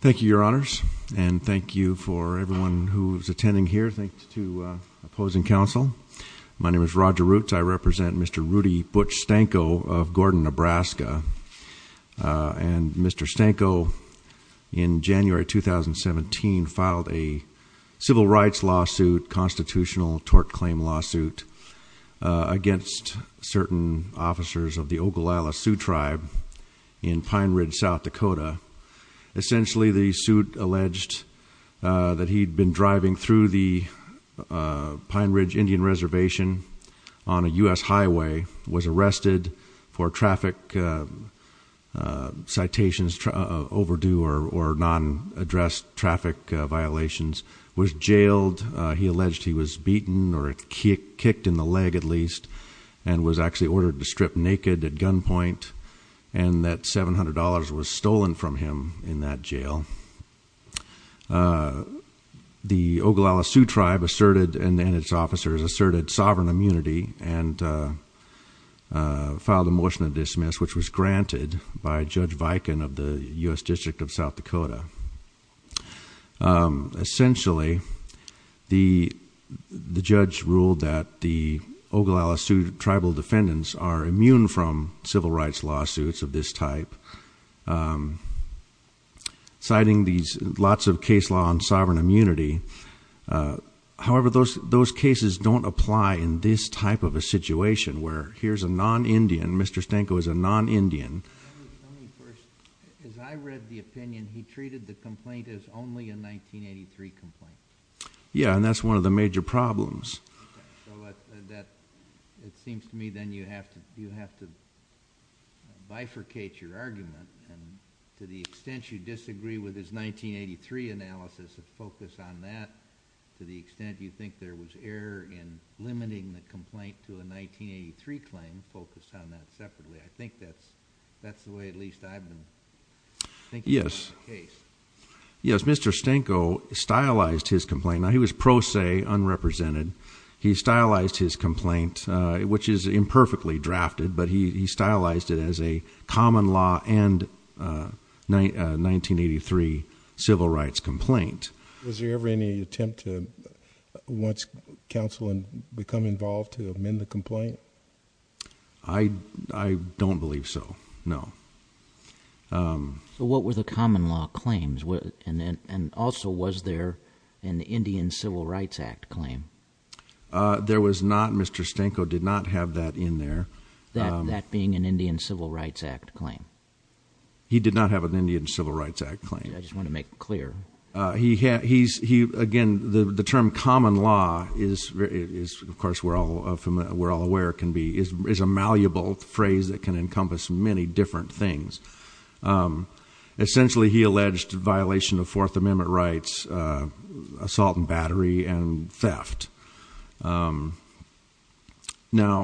Thank you, your honors, and thank you for everyone who's attending here. Thanks to opposing counsel. My name is Roger Roots. I represent Mr. Rudy Butch Stanko of Gordon, Nebraska. And Mr. Stanko in January 2017 filed a civil rights lawsuit, a constitutional tort claim lawsuit against certain officers of the Oglala Sioux Tribe in Pine Ridge, South Dakota. Essentially, the suit alleged that he'd been driving through the Pine Ridge Indian Reservation on a US highway, was arrested for traffic citations overdue or non-addressed traffic violations, was jailed. He alleged he was beaten or kicked in the leg at least, and was actually ordered to strip naked at gunpoint. And that $700 was stolen from him in that jail. The Oglala Sioux Tribe asserted, and its officers asserted, sovereign immunity and filed a motion to dismiss, which was granted by Judge Viken of the US District of South Dakota. Essentially, the judge ruled that the Oglala Sioux Tribal defendants are immune from civil rights lawsuits of this type. Citing these lots of case law on sovereign immunity, however, those cases don't apply in this type of a situation where here's a non-Indian, Mr. Stanko is a non-Indian. As I read the opinion, he treated the complaint as only a 1983 complaint. Yeah, and that's one of the major problems. Okay, so that, it seems to me then you have to bifurcate your argument. And to the extent you disagree with his 1983 analysis and focus on that, to the extent you think there was error in limiting the complaint to a 1983 claim, focus on that separately. I think that's the way at least I've been thinking about the case. Yes, Mr. Stanko stylized his complaint. Now, he was pro se, unrepresented. He stylized his complaint, which is imperfectly drafted, but he stylized it as a common law and 1983 civil rights complaint. Was there ever any attempt to, once counsel had become involved, to amend the complaint? I don't believe so, no. So what were the common law claims? And also, was there an Indian Civil Rights Act claim? There was not, Mr. Stanko did not have that in there. That being an Indian Civil Rights Act claim. He did not have an Indian Civil Rights Act claim. I just want to make it clear. Again, the term common law is, of course, we're all aware it can be, is a malleable phrase that can encompass many different things. Essentially, he alleged violation of Fourth Amendment rights, assault and battery, and theft. Now,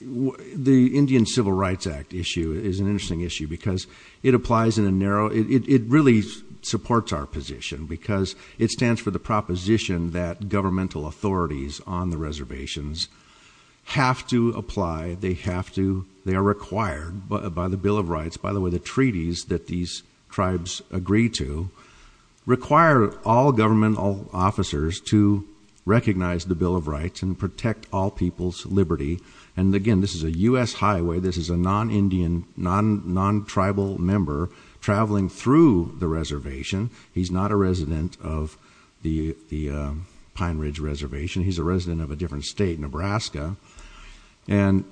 the Indian Civil Rights Act issue is an interesting issue, because it applies in a narrow, it really supports our position. Because it stands for the proposition that governmental authorities on the reservations have to apply, they have to, they are required by the Bill of Rights. By the way, the treaties that these tribes agree to require all government officers to recognize the Bill of Rights and protect all people's liberty. And again, this is a US highway, this is a non-Indian, non-tribal member traveling through the reservation. He's not a resident of the Pine Ridge Reservation, he's a resident of a different state, Nebraska. And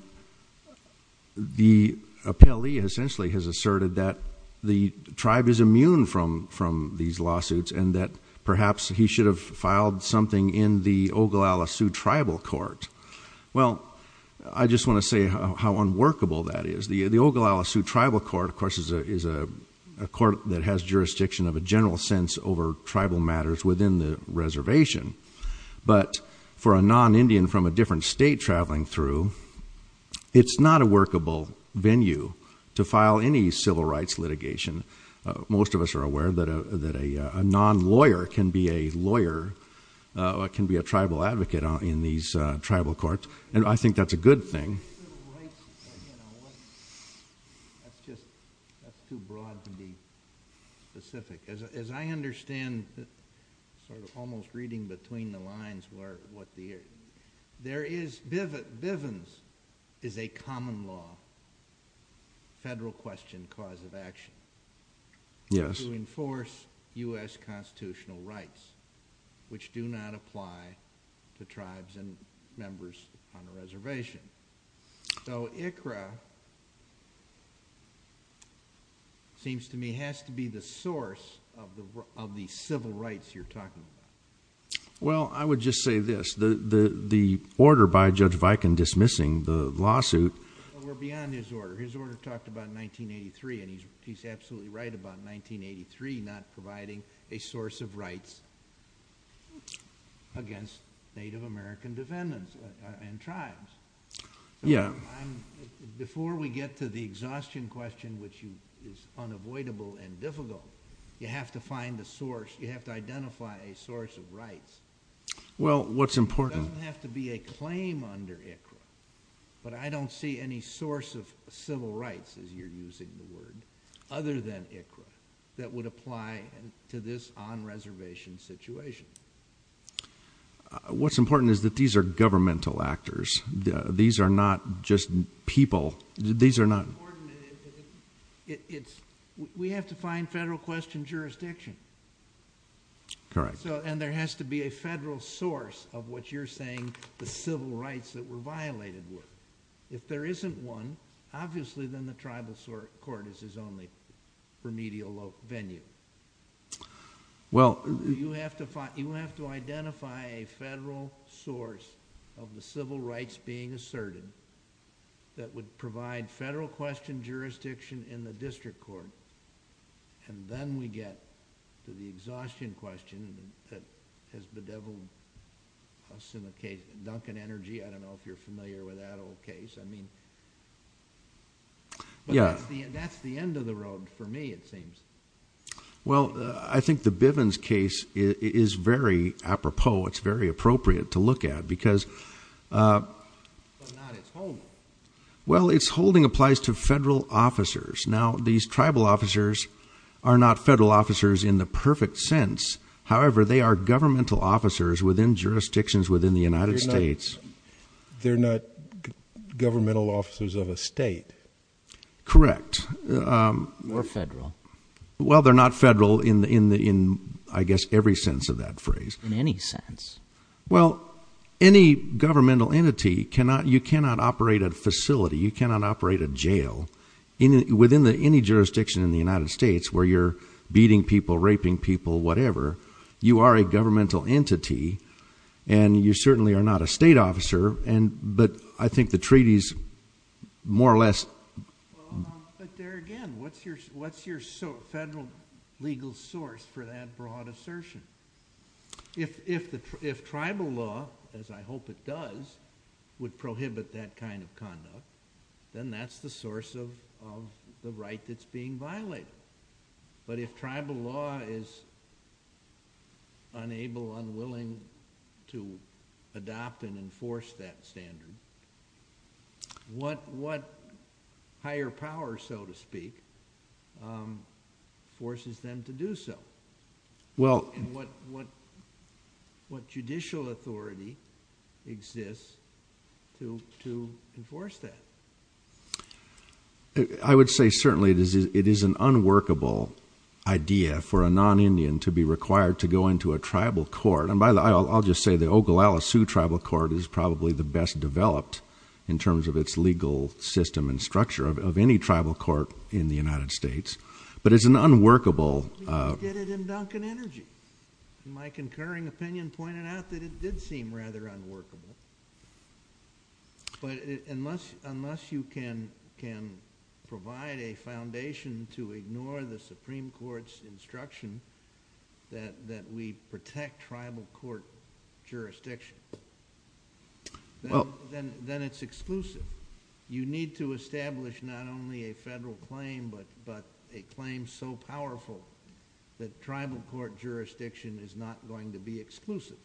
the appellee essentially has asserted that the tribe is immune from these lawsuits and that perhaps he should have filed something in the Ogallala Sioux Tribal Court. Well, I just want to say how unworkable that is. The Ogallala Sioux Tribal Court, of course, is a court that has jurisdiction of a general sense over tribal matters within the reservation. But for a non-Indian from a different state traveling through, it's not a workable venue to file any civil rights litigation. Most of us are aware that a non-lawyer can be a lawyer, or can be a tribal advocate in these tribal courts, and I think that's a good thing. That's just, that's too broad to be specific. As I understand, sort of almost reading between the lines, where, what the, there is, Bivens is a common law, federal question, cause of action. Yes. To enforce US constitutional rights, which do not apply to tribes and members on the reservation. So, ICRA, seems to me, has to be the source of the civil rights you're talking about. Well, I would just say this, the order by Judge Viken dismissing the lawsuit. Well, we're beyond his order. His order talked about 1983, and he's absolutely right about 1983, not providing a source of rights against Native American defendants and tribes. Yeah. Before we get to the exhaustion question, which is unavoidable and difficult, you have to find a source, you have to identify a source of rights. Well, what's important? It doesn't have to be a claim under ICRA, but I don't see any source of civil rights, as you're using the word, other than ICRA, that would apply to this on-reservation situation. What's important is that these are governmental actors. These are not just people. These are not. It's important, and it's, we have to find federal question jurisdiction. Correct. There has to be a federal source of what you're saying the civil rights that were violated were. If there isn't one, obviously, then the tribal court is his only remedial venue. You have to identify a federal source of the civil rights being asserted that would provide federal question jurisdiction in the district court, and then we get to the exhaustion question that has bedeviled us in the case of Duncan Energy. I don't know if you're familiar with that old case. I mean, but that's the end of the road for me, it seems. Well, I think the Bivens case is very apropos. It's very appropriate to look at because. But not its holding. Well, its holding applies to federal officers. Now, these tribal officers are not federal officers in the perfect sense. However, they are governmental officers within jurisdictions within the United States. They're not governmental officers of a state. Correct. Or federal. Well, they're not federal in, I guess, every sense of that phrase. In any sense. Well, any governmental entity, you cannot operate a facility, you cannot operate a jail within any jurisdiction in the United States where you're beating people, raping people, whatever. You are a governmental entity, and you certainly are not a state officer, but I think the treaties more or less. But there again, what's your federal legal source for that broad assertion? If tribal law, as I hope it does, would prohibit that kind of conduct, then that's the source of the right that's being violated. But if tribal law is unable, unwilling to adopt and enforce that standard, what higher power, so to speak, forces them to do so? Well- And what judicial authority exists to enforce that? I would say certainly it is an unworkable idea for a non-Indian to be required to go into a tribal court. And by the, I'll just say the Ogallala Sioux Tribal Court is probably the best developed in terms of its legal system and structure of any tribal court in the United States. But it's an unworkable- I did it in Duncan Energy. My concurring opinion pointed out that it did seem rather unworkable. But unless you can provide a foundation to ignore the Supreme Court's instruction that we protect tribal court jurisdiction, then it's exclusive. You need to establish not only a federal claim but a claim so powerful that tribal court jurisdiction is not going to be exclusive.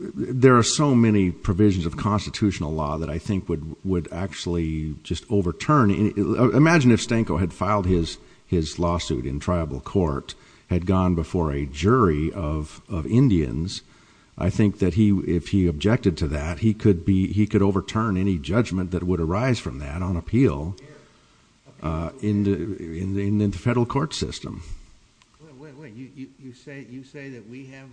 There are so many provisions of constitutional law that I think would actually just overturn. Imagine if Stanko had filed his lawsuit in tribal court, had gone before a jury of Indians. I think that if he objected to that, he could overturn any judgment that would arise from that on appeal in the federal court system. Wait, wait, wait. You say that we have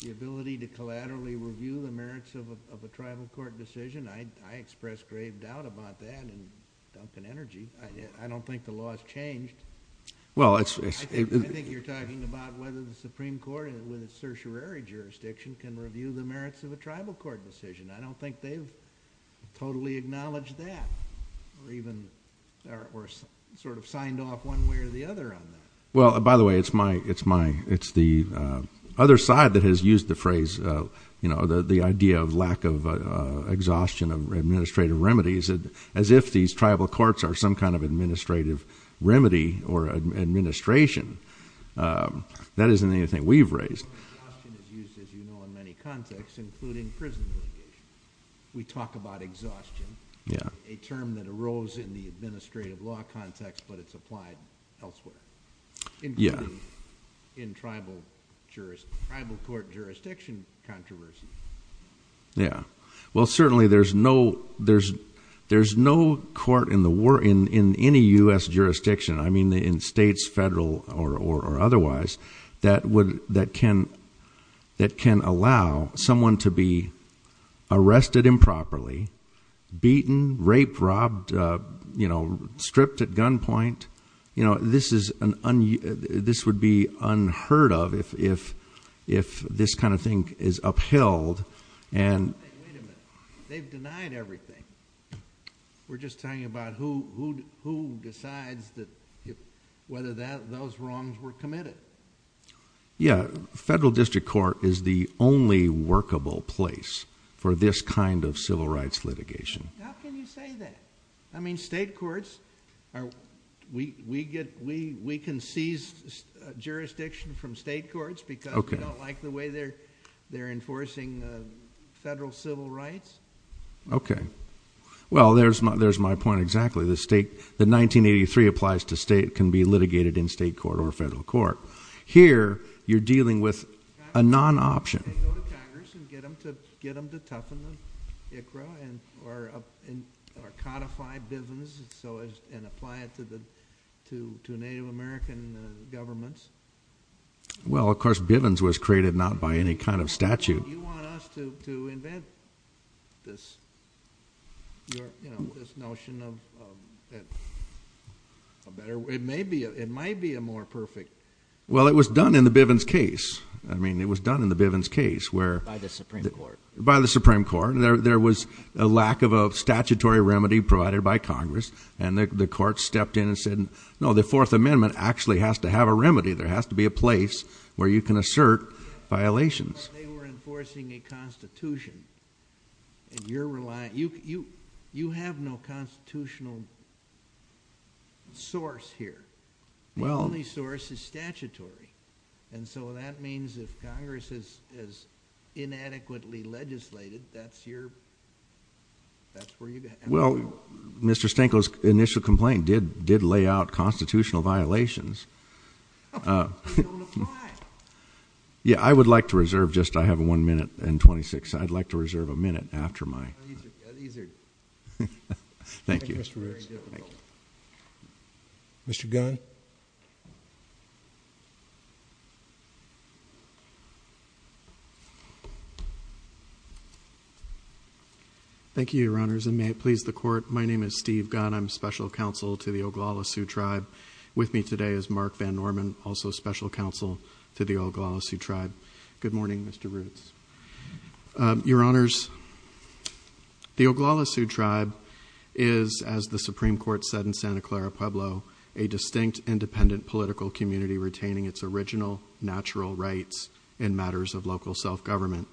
the ability to collaterally review the merits of a tribal court decision? I express grave doubt about that in Duncan Energy. I don't think the law has changed. Well, it's- I think you're talking about whether the Supreme Court with its I don't think they've totally acknowledged that, or even sort of signed off one way or the other on that. Well, by the way, it's the other side that has used the phrase, the idea of lack of exhaustion of administrative remedies, as if these tribal courts are some kind of administrative remedy or administration. That isn't anything we've raised. Exhaustion is used, as you know, in many contexts, including prison litigation. We talk about exhaustion, a term that arose in the administrative law context, but it's applied elsewhere. Including in tribal court jurisdiction controversy. Yeah. Well, certainly there's no court in any US jurisdiction, I mean in states, federal or otherwise, that can allow someone to be arrested improperly, beaten, raped, robbed, stripped at gunpoint, this would be unheard of if this kind of thing is upheld. And- Wait a minute. They've denied everything. We're just talking about who decides whether those wrongs were committed. Yeah, federal district court is the only workable place for this kind of civil rights litigation. How can you say that? I mean, state courts, we can seize jurisdiction from state courts because- Okay. We don't like the way they're enforcing federal civil rights. Okay. Well, there's my point exactly. The 1983 applies to state, can be litigated in state court or federal court. Here, you're dealing with a non-option. They go to Congress and get them to toughen the ICRA, or codify Bivens, and apply it to Native American governments. Well, of course, Bivens was created not by any kind of statute. Do you want us to invent this notion of a better way? It might be a more perfect- Well, it was done in the Bivens case. I mean, it was done in the Bivens case where- By the Supreme Court. By the Supreme Court. There was a lack of a statutory remedy provided by Congress. And the court stepped in and said, no, the Fourth Amendment actually has to have a remedy. There has to be a place where you can assert violations. They were enforcing a constitution, and you have no constitutional source here. Well- The only source is statutory. And so that means if Congress has inadequately legislated, that's where you- Well, Mr. Stanko's initial complaint did lay out constitutional violations. Well, they don't apply. Yeah, I would like to reserve just, I have one minute and 26, I'd like to reserve a minute after my- These are- Thank you. Thank you, Mr. Riggs. Mr. Gunn. Thank you, Your Honors, and may it please the court. My name is Steve Gunn. I'm special counsel to the Oglala Sioux Tribe. With me today is Mark Van Norman, also special counsel to the Oglala Sioux Tribe. Good morning, Mr. Riggs. Your Honors, the Oglala Sioux Tribe is, as the Supreme Court said in Santa Clara Pueblo, a distinct independent political community retaining its original natural rights in matters of local self-government.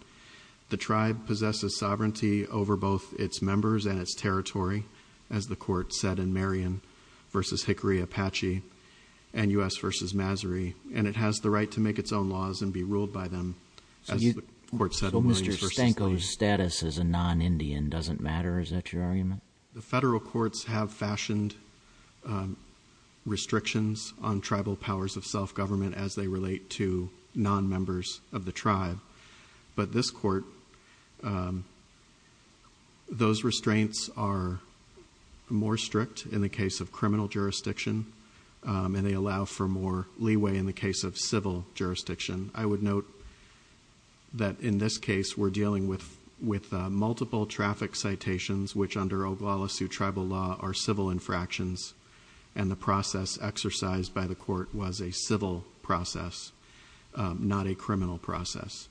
The tribe possesses sovereignty over both its members and its territory, as the court said in Marion v. Hickory Apache and U.S. v. Masary. And it has the right to make its own laws and be ruled by them, as the court said in- So Mr. Stanko's status as a non-Indian doesn't matter, is that your argument? The federal courts have fashioned restrictions on tribal powers of self-government as they relate to non-members of the tribe. But this court, those restraints are more strict in the case of criminal jurisdiction. And they allow for more leeway in the case of civil jurisdiction. I would note that in this case, we're dealing with multiple traffic citations, which under Oglala Sioux tribal law are civil infractions. And the process exercised by the court was a civil process, not a criminal process.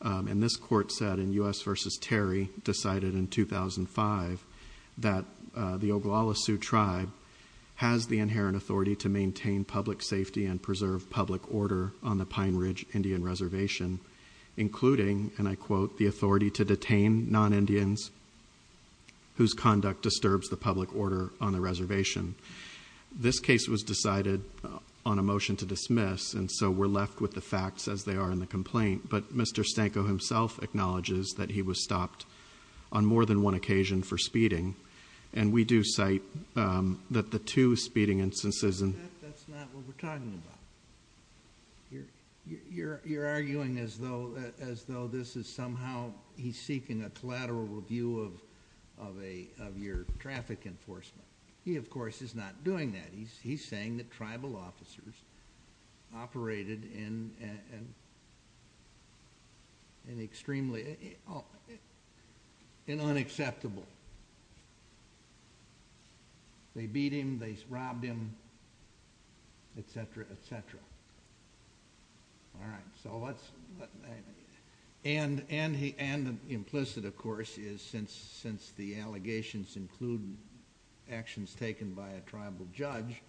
And this court said in U.S. v. Terry, decided in 2005 that the Oglala Sioux tribe has the inherent authority to maintain public safety and preserve public order on the Pine Ridge Indian Reservation. Including, and I quote, the authority to detain non-Indians whose conduct disturbs the public order on the reservation. This case was decided on a motion to dismiss, and so we're left with the facts as they are in the complaint. But Mr. Stanko himself acknowledges that he was stopped on more than one occasion for speeding. And we do cite that the two speeding instances- That's not what we're talking about. You're arguing as though this is somehow, he's seeking a collateral review of your traffic enforcement. He, of course, is not doing that. He's saying that tribal officers operated in an extremely, in unacceptable. They beat him, they robbed him, etc., etc. All right, so let's, and implicit, of course, is since the allegations include actions taken by a tribal judge,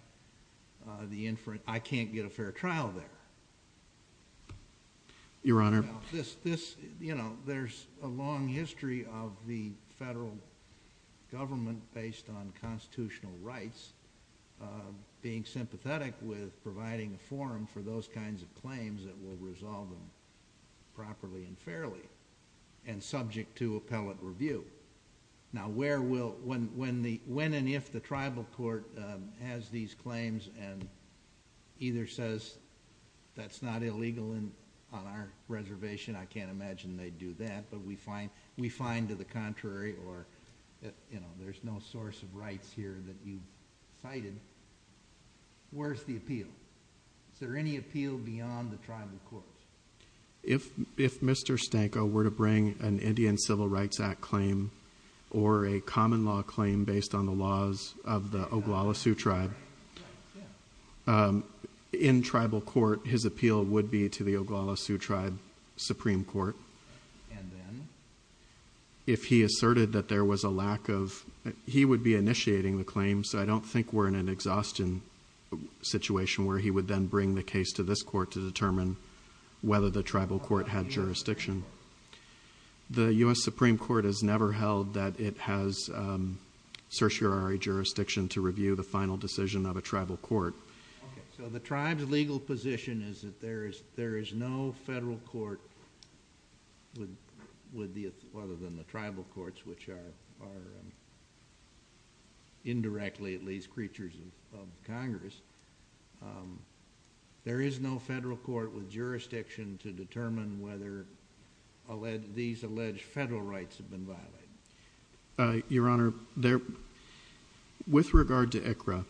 the inference, I can't get a fair trial there. Your Honor. This, you know, there's a long history of the federal government based on constitutional rights being sympathetic with providing a forum for those kinds of claims that will resolve them properly and fairly. And subject to appellate review. Now where will, when and if the tribal court has these claims and either says that's not illegal on our reservation, I can't imagine they'd do that. But we find to the contrary or, you know, there's no source of rights here that you cited. Where's the appeal? Is there any appeal beyond the tribal court? If Mr. Stanko were to bring an Indian Civil Rights Act claim or a common law claim based on the laws of the Oglala Sioux tribe, in tribal court, his appeal would be to the Oglala Sioux tribe Supreme Court. And then? If he asserted that there was a lack of, he would be initiating the claim, so I don't think we're in an exhaustion situation where he would then bring the case to this court to determine whether the tribal court had jurisdiction. The U.S. Supreme Court has never held that it has certiorari jurisdiction to review the final decision of a tribal court. So the tribe's legal position is that there is no federal court, other than the tribal courts, which are indirectly at least creatures of Congress, there is no federal court with jurisdiction to determine whether these alleged federal rights have been violated. Your Honor, with regard to ICRA,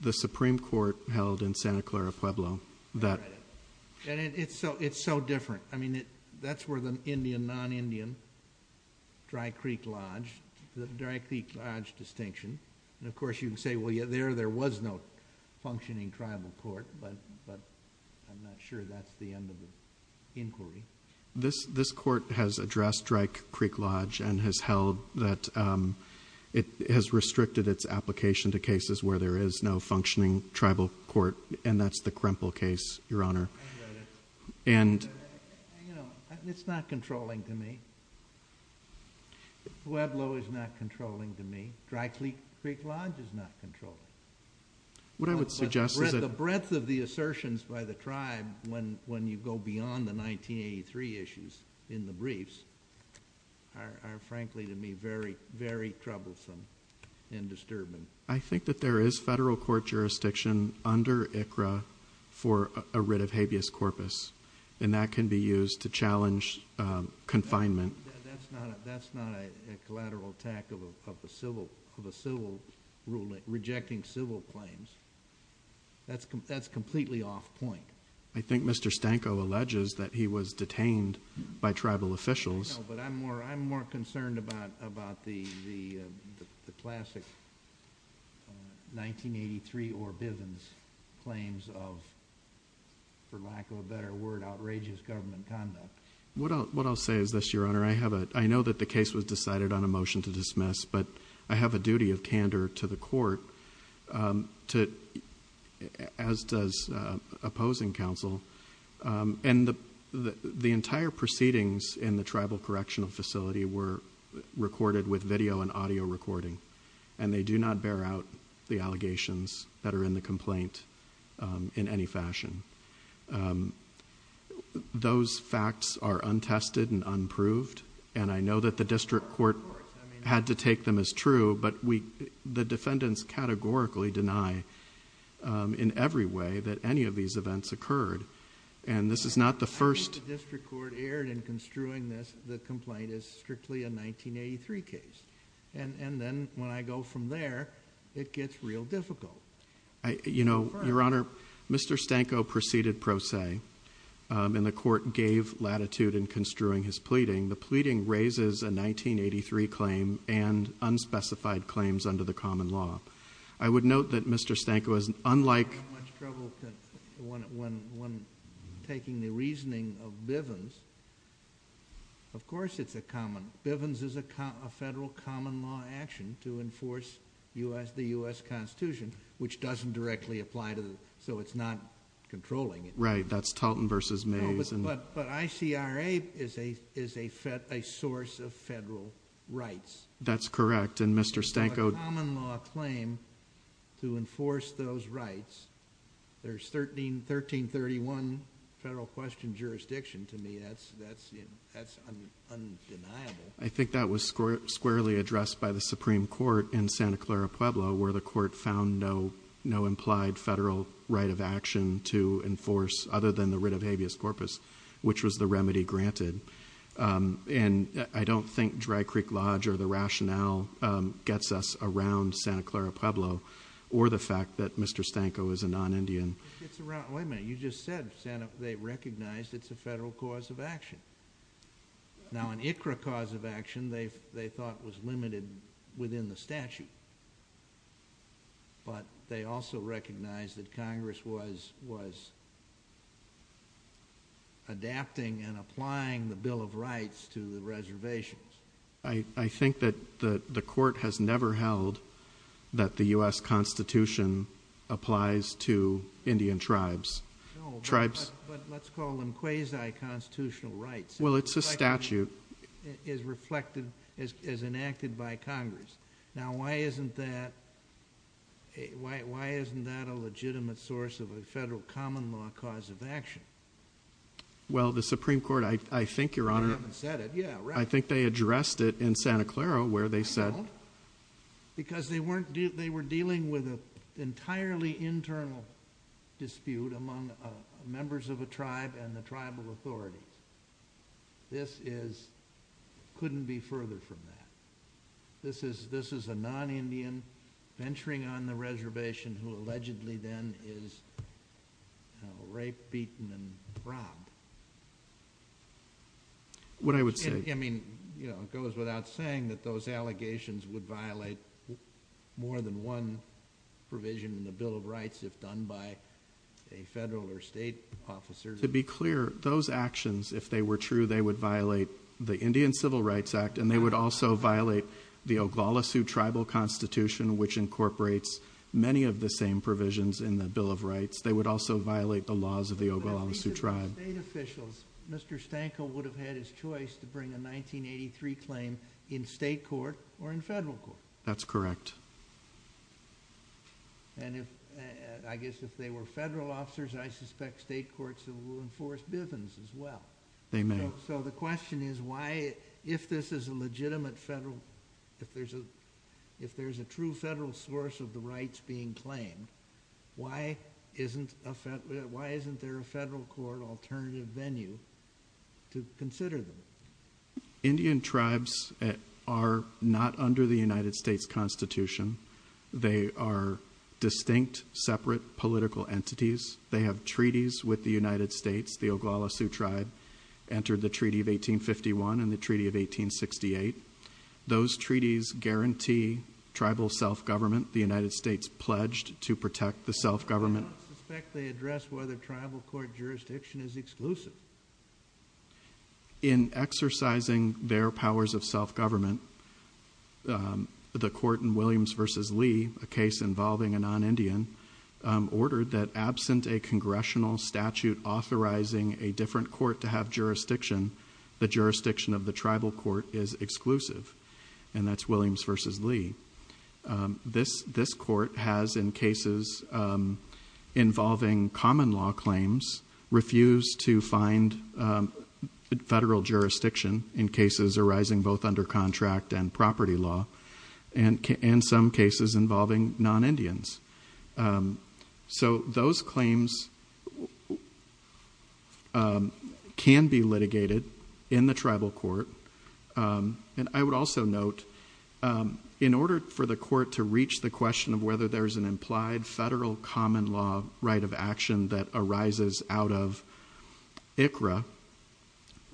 the Supreme Court held in Santa Clara Pueblo that And it's so different. I mean, that's where the Indian, non-Indian, Dry Creek Lodge, the Dry Creek Lodge distinction, and of course you can say, well, yeah, there was no functioning tribal court, but I'm not sure that's the end of the inquiry. This court has addressed Dry Creek Lodge and has held that it has restricted its application to cases where there is no functioning tribal court, and that's the Kremple case, Your Honor. And, you know, it's not controlling to me. Pueblo is not controlling to me. Dry Creek Lodge is not controlling. What I would suggest is that The breadth of the assertions by the tribe, when you go beyond the 1983 issues in the briefs, are frankly to me very, very troublesome and disturbing. I think that there is federal court jurisdiction under ICRA for a writ of habeas corpus, and that can be used to challenge confinement. That's not a collateral attack of a civil ruling, rejecting civil claims. That's completely off point. I think Mr. Stanko alleges that he was detained by tribal officials. No, but I'm more concerned about the classic 1983 or Bivens claims of, for lack of a better word, outrageous government conduct. What I'll say is this, Your Honor. I know that the case was decided on a motion to dismiss, but I have a duty of candor to the court, as does opposing counsel. The entire proceedings in the tribal correctional facility were recorded with video and audio recording, and they do not bear out the allegations that are in the complaint in any fashion. Those facts are untested and unproved, and I know that the district court had to take them as true, but the defendants categorically deny, in every way, that any of these events occurred. And this is not the first... I think the district court erred in construing this complaint as strictly a 1983 case. And then, when I go from there, it gets real difficult. You know, Your Honor, Mr. Stanko proceeded pro se, and the court gave latitude in construing his pleading. The pleading raises a 1983 claim and unspecified claims under the common law. I would note that Mr. Stanko is unlike... I have much trouble when taking the reasoning of Bivens. Of course it's a common... Bivens is a federal common law action to enforce the U.S. Constitution, which doesn't directly apply to... So it's not controlling it. Right. That's Talton v. Mays. No, but ICRA is a source of federal rights. That's correct, and Mr. Stanko... It's a common law claim to enforce those rights. There's 1331 federal question jurisdiction to me. That's undeniable. I think that was squarely addressed by the Supreme Court in Santa Clara Pueblo, where the court found no implied federal right of action to enforce other than the writ of habeas corpus, which was the remedy granted. And I don't think Dry Creek Lodge or the rationale gets us around Santa Clara Pueblo, or the fact that Mr. Stanko is a non-Indian. Wait a minute. You just said they recognized it's a federal cause of action. Now, an ICRA cause of action they thought was limited within the statute, but they also recognized that Congress was adapting and applying the Bill of Rights to the reservations. I think that the court has never held that the U.S. Constitution applies to Indian tribes. But let's call them quasi-constitutional rights. Well, it's a statute. It's reflected as enacted by Congress. Now, why isn't that a legitimate source of a federal common law cause of action? Well, the Supreme Court, I think, Your Honor... They haven't said it. Yeah, right. I think they addressed it in Santa Clara, where they said... Because they were dealing with an entirely internal dispute among members of a tribe and the tribal authority. This couldn't be further from that. This is a non-Indian venturing on the reservation who allegedly then is raped, beaten, and robbed. What I would say... It goes without saying that those allegations would violate more than one provision in the Bill of Rights if done by a federal or state officer. To be clear, those actions, if they were true, they would violate the Indian Civil Rights Act, and they would also violate the Oglala Sioux Tribal Constitution, which incorporates many of the same provisions in the Bill of Rights. They would also violate the laws of the Oglala Sioux Tribe. Mr. Stanko would have had his choice to bring a 1983 claim in state court or in federal court. That's correct. I guess if they were federal officers, I suspect state courts will enforce Bivens as well. They may. So the question is, if there's a true federal source of the rights being claimed, why isn't there a federal court alternative venue to consider them? Indian tribes are not under the United States Constitution. They are distinct, separate political entities. They have treaties with the United States. The Oglala Sioux Tribe entered the Treaty of 1851 and the Treaty of 1868. Those treaties guarantee tribal self-government. The United States pledged to protect the self-government. I don't suspect they address whether tribal court jurisdiction is exclusive. In exercising their powers of self-government, the court in Williams v. Lee, a case involving a non-Indian, ordered that absent a congressional statute authorizing a different court to have jurisdiction, the jurisdiction of the tribal court is exclusive, and that's Williams v. Lee. This court has, in cases involving common law claims, refused to find federal jurisdiction in cases arising both under contract and property law, and some cases involving non-Indians. So those claims can be litigated in the tribal court. And I would also note, in order for the court to reach the question of whether there is an implied federal common law right of action that arises out of ICRA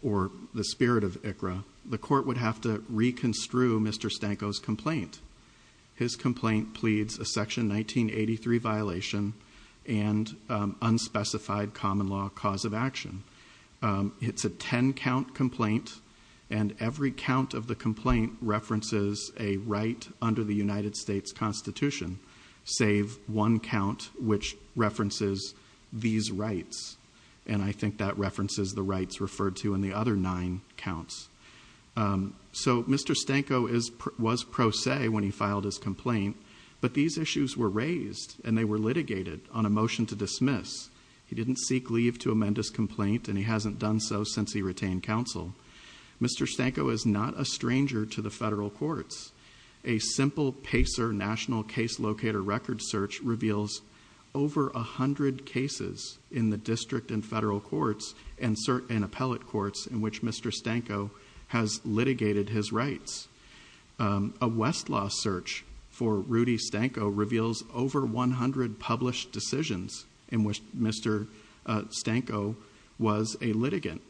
or the spirit of ICRA, the court would have to reconstrue Mr. Stanko's complaint. His complaint pleads a Section 1983 violation and unspecified common law cause of action. It's a ten-count complaint, and every count of the complaint references a right under the United States Constitution, save one count which references these rights, and I think that references the rights referred to in the other nine counts. So Mr. Stanko was pro se when he filed his complaint, but these issues were raised and they were litigated on a motion to dismiss. He didn't seek leave to amend his complaint, and he hasn't done so since he retained counsel. Mr. Stanko is not a stranger to the federal courts. A simple PACER, National Case Locator record search, reveals over a hundred cases in the district and federal courts and appellate courts in which Mr. Stanko has litigated his rights. A Westlaw search for Rudy Stanko reveals over 100 published decisions in which Mr. Stanko was a litigant.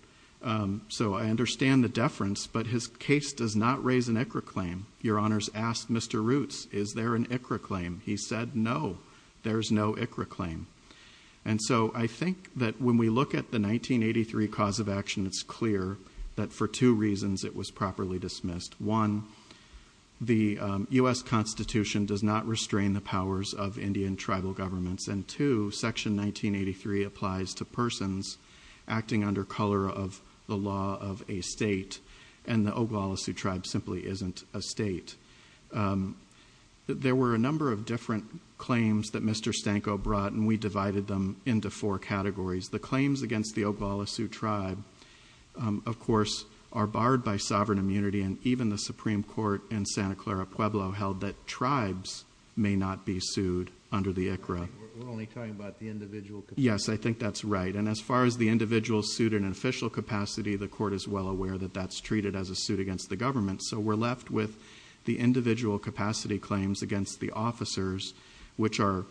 So I understand the deference, but his case does not raise an ICRA claim. Your Honors asked Mr. Roots, is there an ICRA claim? He said, no, there's no ICRA claim. And so I think that when we look at the 1983 cause of action, it's clear that for two reasons it was properly dismissed. One, the U.S. Constitution does not restrain the powers of Indian tribal governments. And two, Section 1983 applies to persons acting under color of the law of a state, and the Oglala Sioux Tribe simply isn't a state. There were a number of different claims that Mr. Stanko brought, and we divided them into four categories. The claims against the Oglala Sioux Tribe, of course, are barred by sovereign immunity, and even the Supreme Court in Santa Clara Pueblo held that tribes may not be sued under the ICRA. We're only talking about the individual capacity? Yes, I think that's right. And as far as the individual suit and official capacity, the court is well aware that that's treated as a suit against the government. So we're left with the individual capacity claims against the officers, which are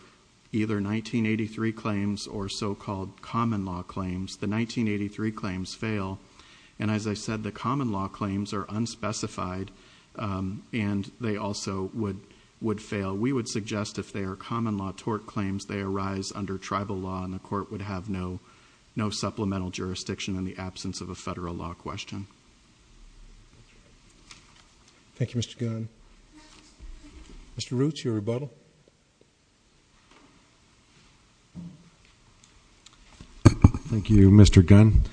either 1983 claims or so-called common law claims. The 1983 claims fail. And as I said, the common law claims are unspecified, and they also would fail. We would suggest if they are common law tort claims, they arise under tribal law, and the court would have no supplemental jurisdiction in the absence of a federal law question. Thank you, Mr. Gunn. Mr. Roots, your rebuttal. Thank you, Mr. Gunn.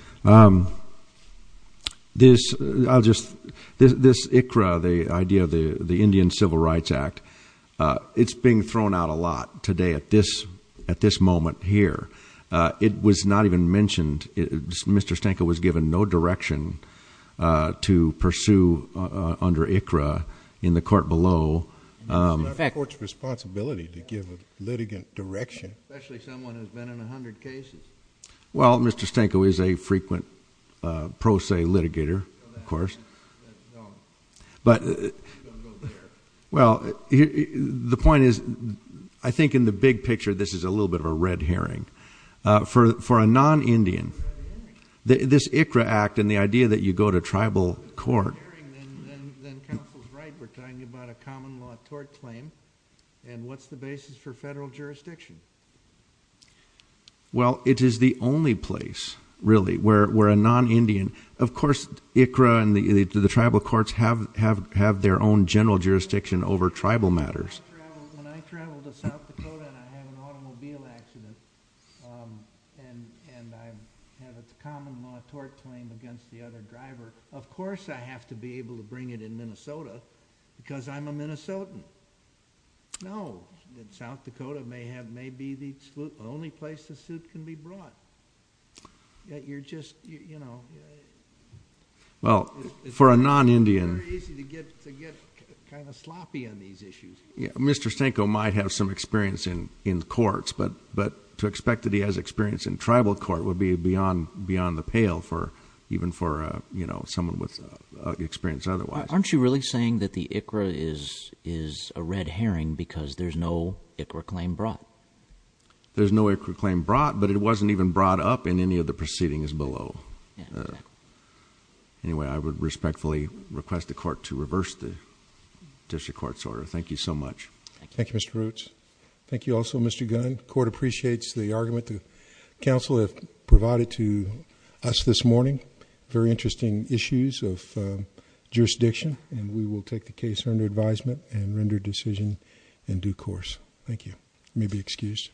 This ICRA, the idea of the Indian Civil Rights Act, it's being thrown out a lot today at this moment here. It was not even mentioned. Mr. Stanko was given no direction to pursue under ICRA in the court below. It's not the court's responsibility to give a litigant direction. Especially someone who's been in 100 cases. Well, Mr. Stanko is a frequent pro se litigator, of course. Well, the point is, I think in the big picture, this is a little bit of a red herring. For a non-Indian, this ICRA act and the idea that you go to tribal court- really, we're a non-Indian. Of course, ICRA and the tribal courts have their own general jurisdiction over tribal matters. When I travel to South Dakota and I have an automobile accident, and I have a common law tort claim against the other driver, of course I have to be able to bring it in Minnesota, because I'm a Minnesotan. No, South Dakota may be the only place the suit can be brought. Well, for a non-Indian- It's very easy to get kind of sloppy on these issues. Mr. Stanko might have some experience in courts, but to expect that he has experience in tribal court would be beyond the pale, even for someone with experience otherwise. Aren't you really saying that the ICRA is a red herring because there's no ICRA claim brought? There's no ICRA claim brought, but it wasn't even brought up in any of the proceedings below. Anyway, I would respectfully request the court to reverse the district court's order. Thank you so much. Thank you, Mr. Roots. Thank you also, Mr. Gunn. The court appreciates the argument the counsel has provided to us this morning. Very interesting issues of jurisdiction, and we will take the case under advisement and render decision in due course. Thank you. You may be excused.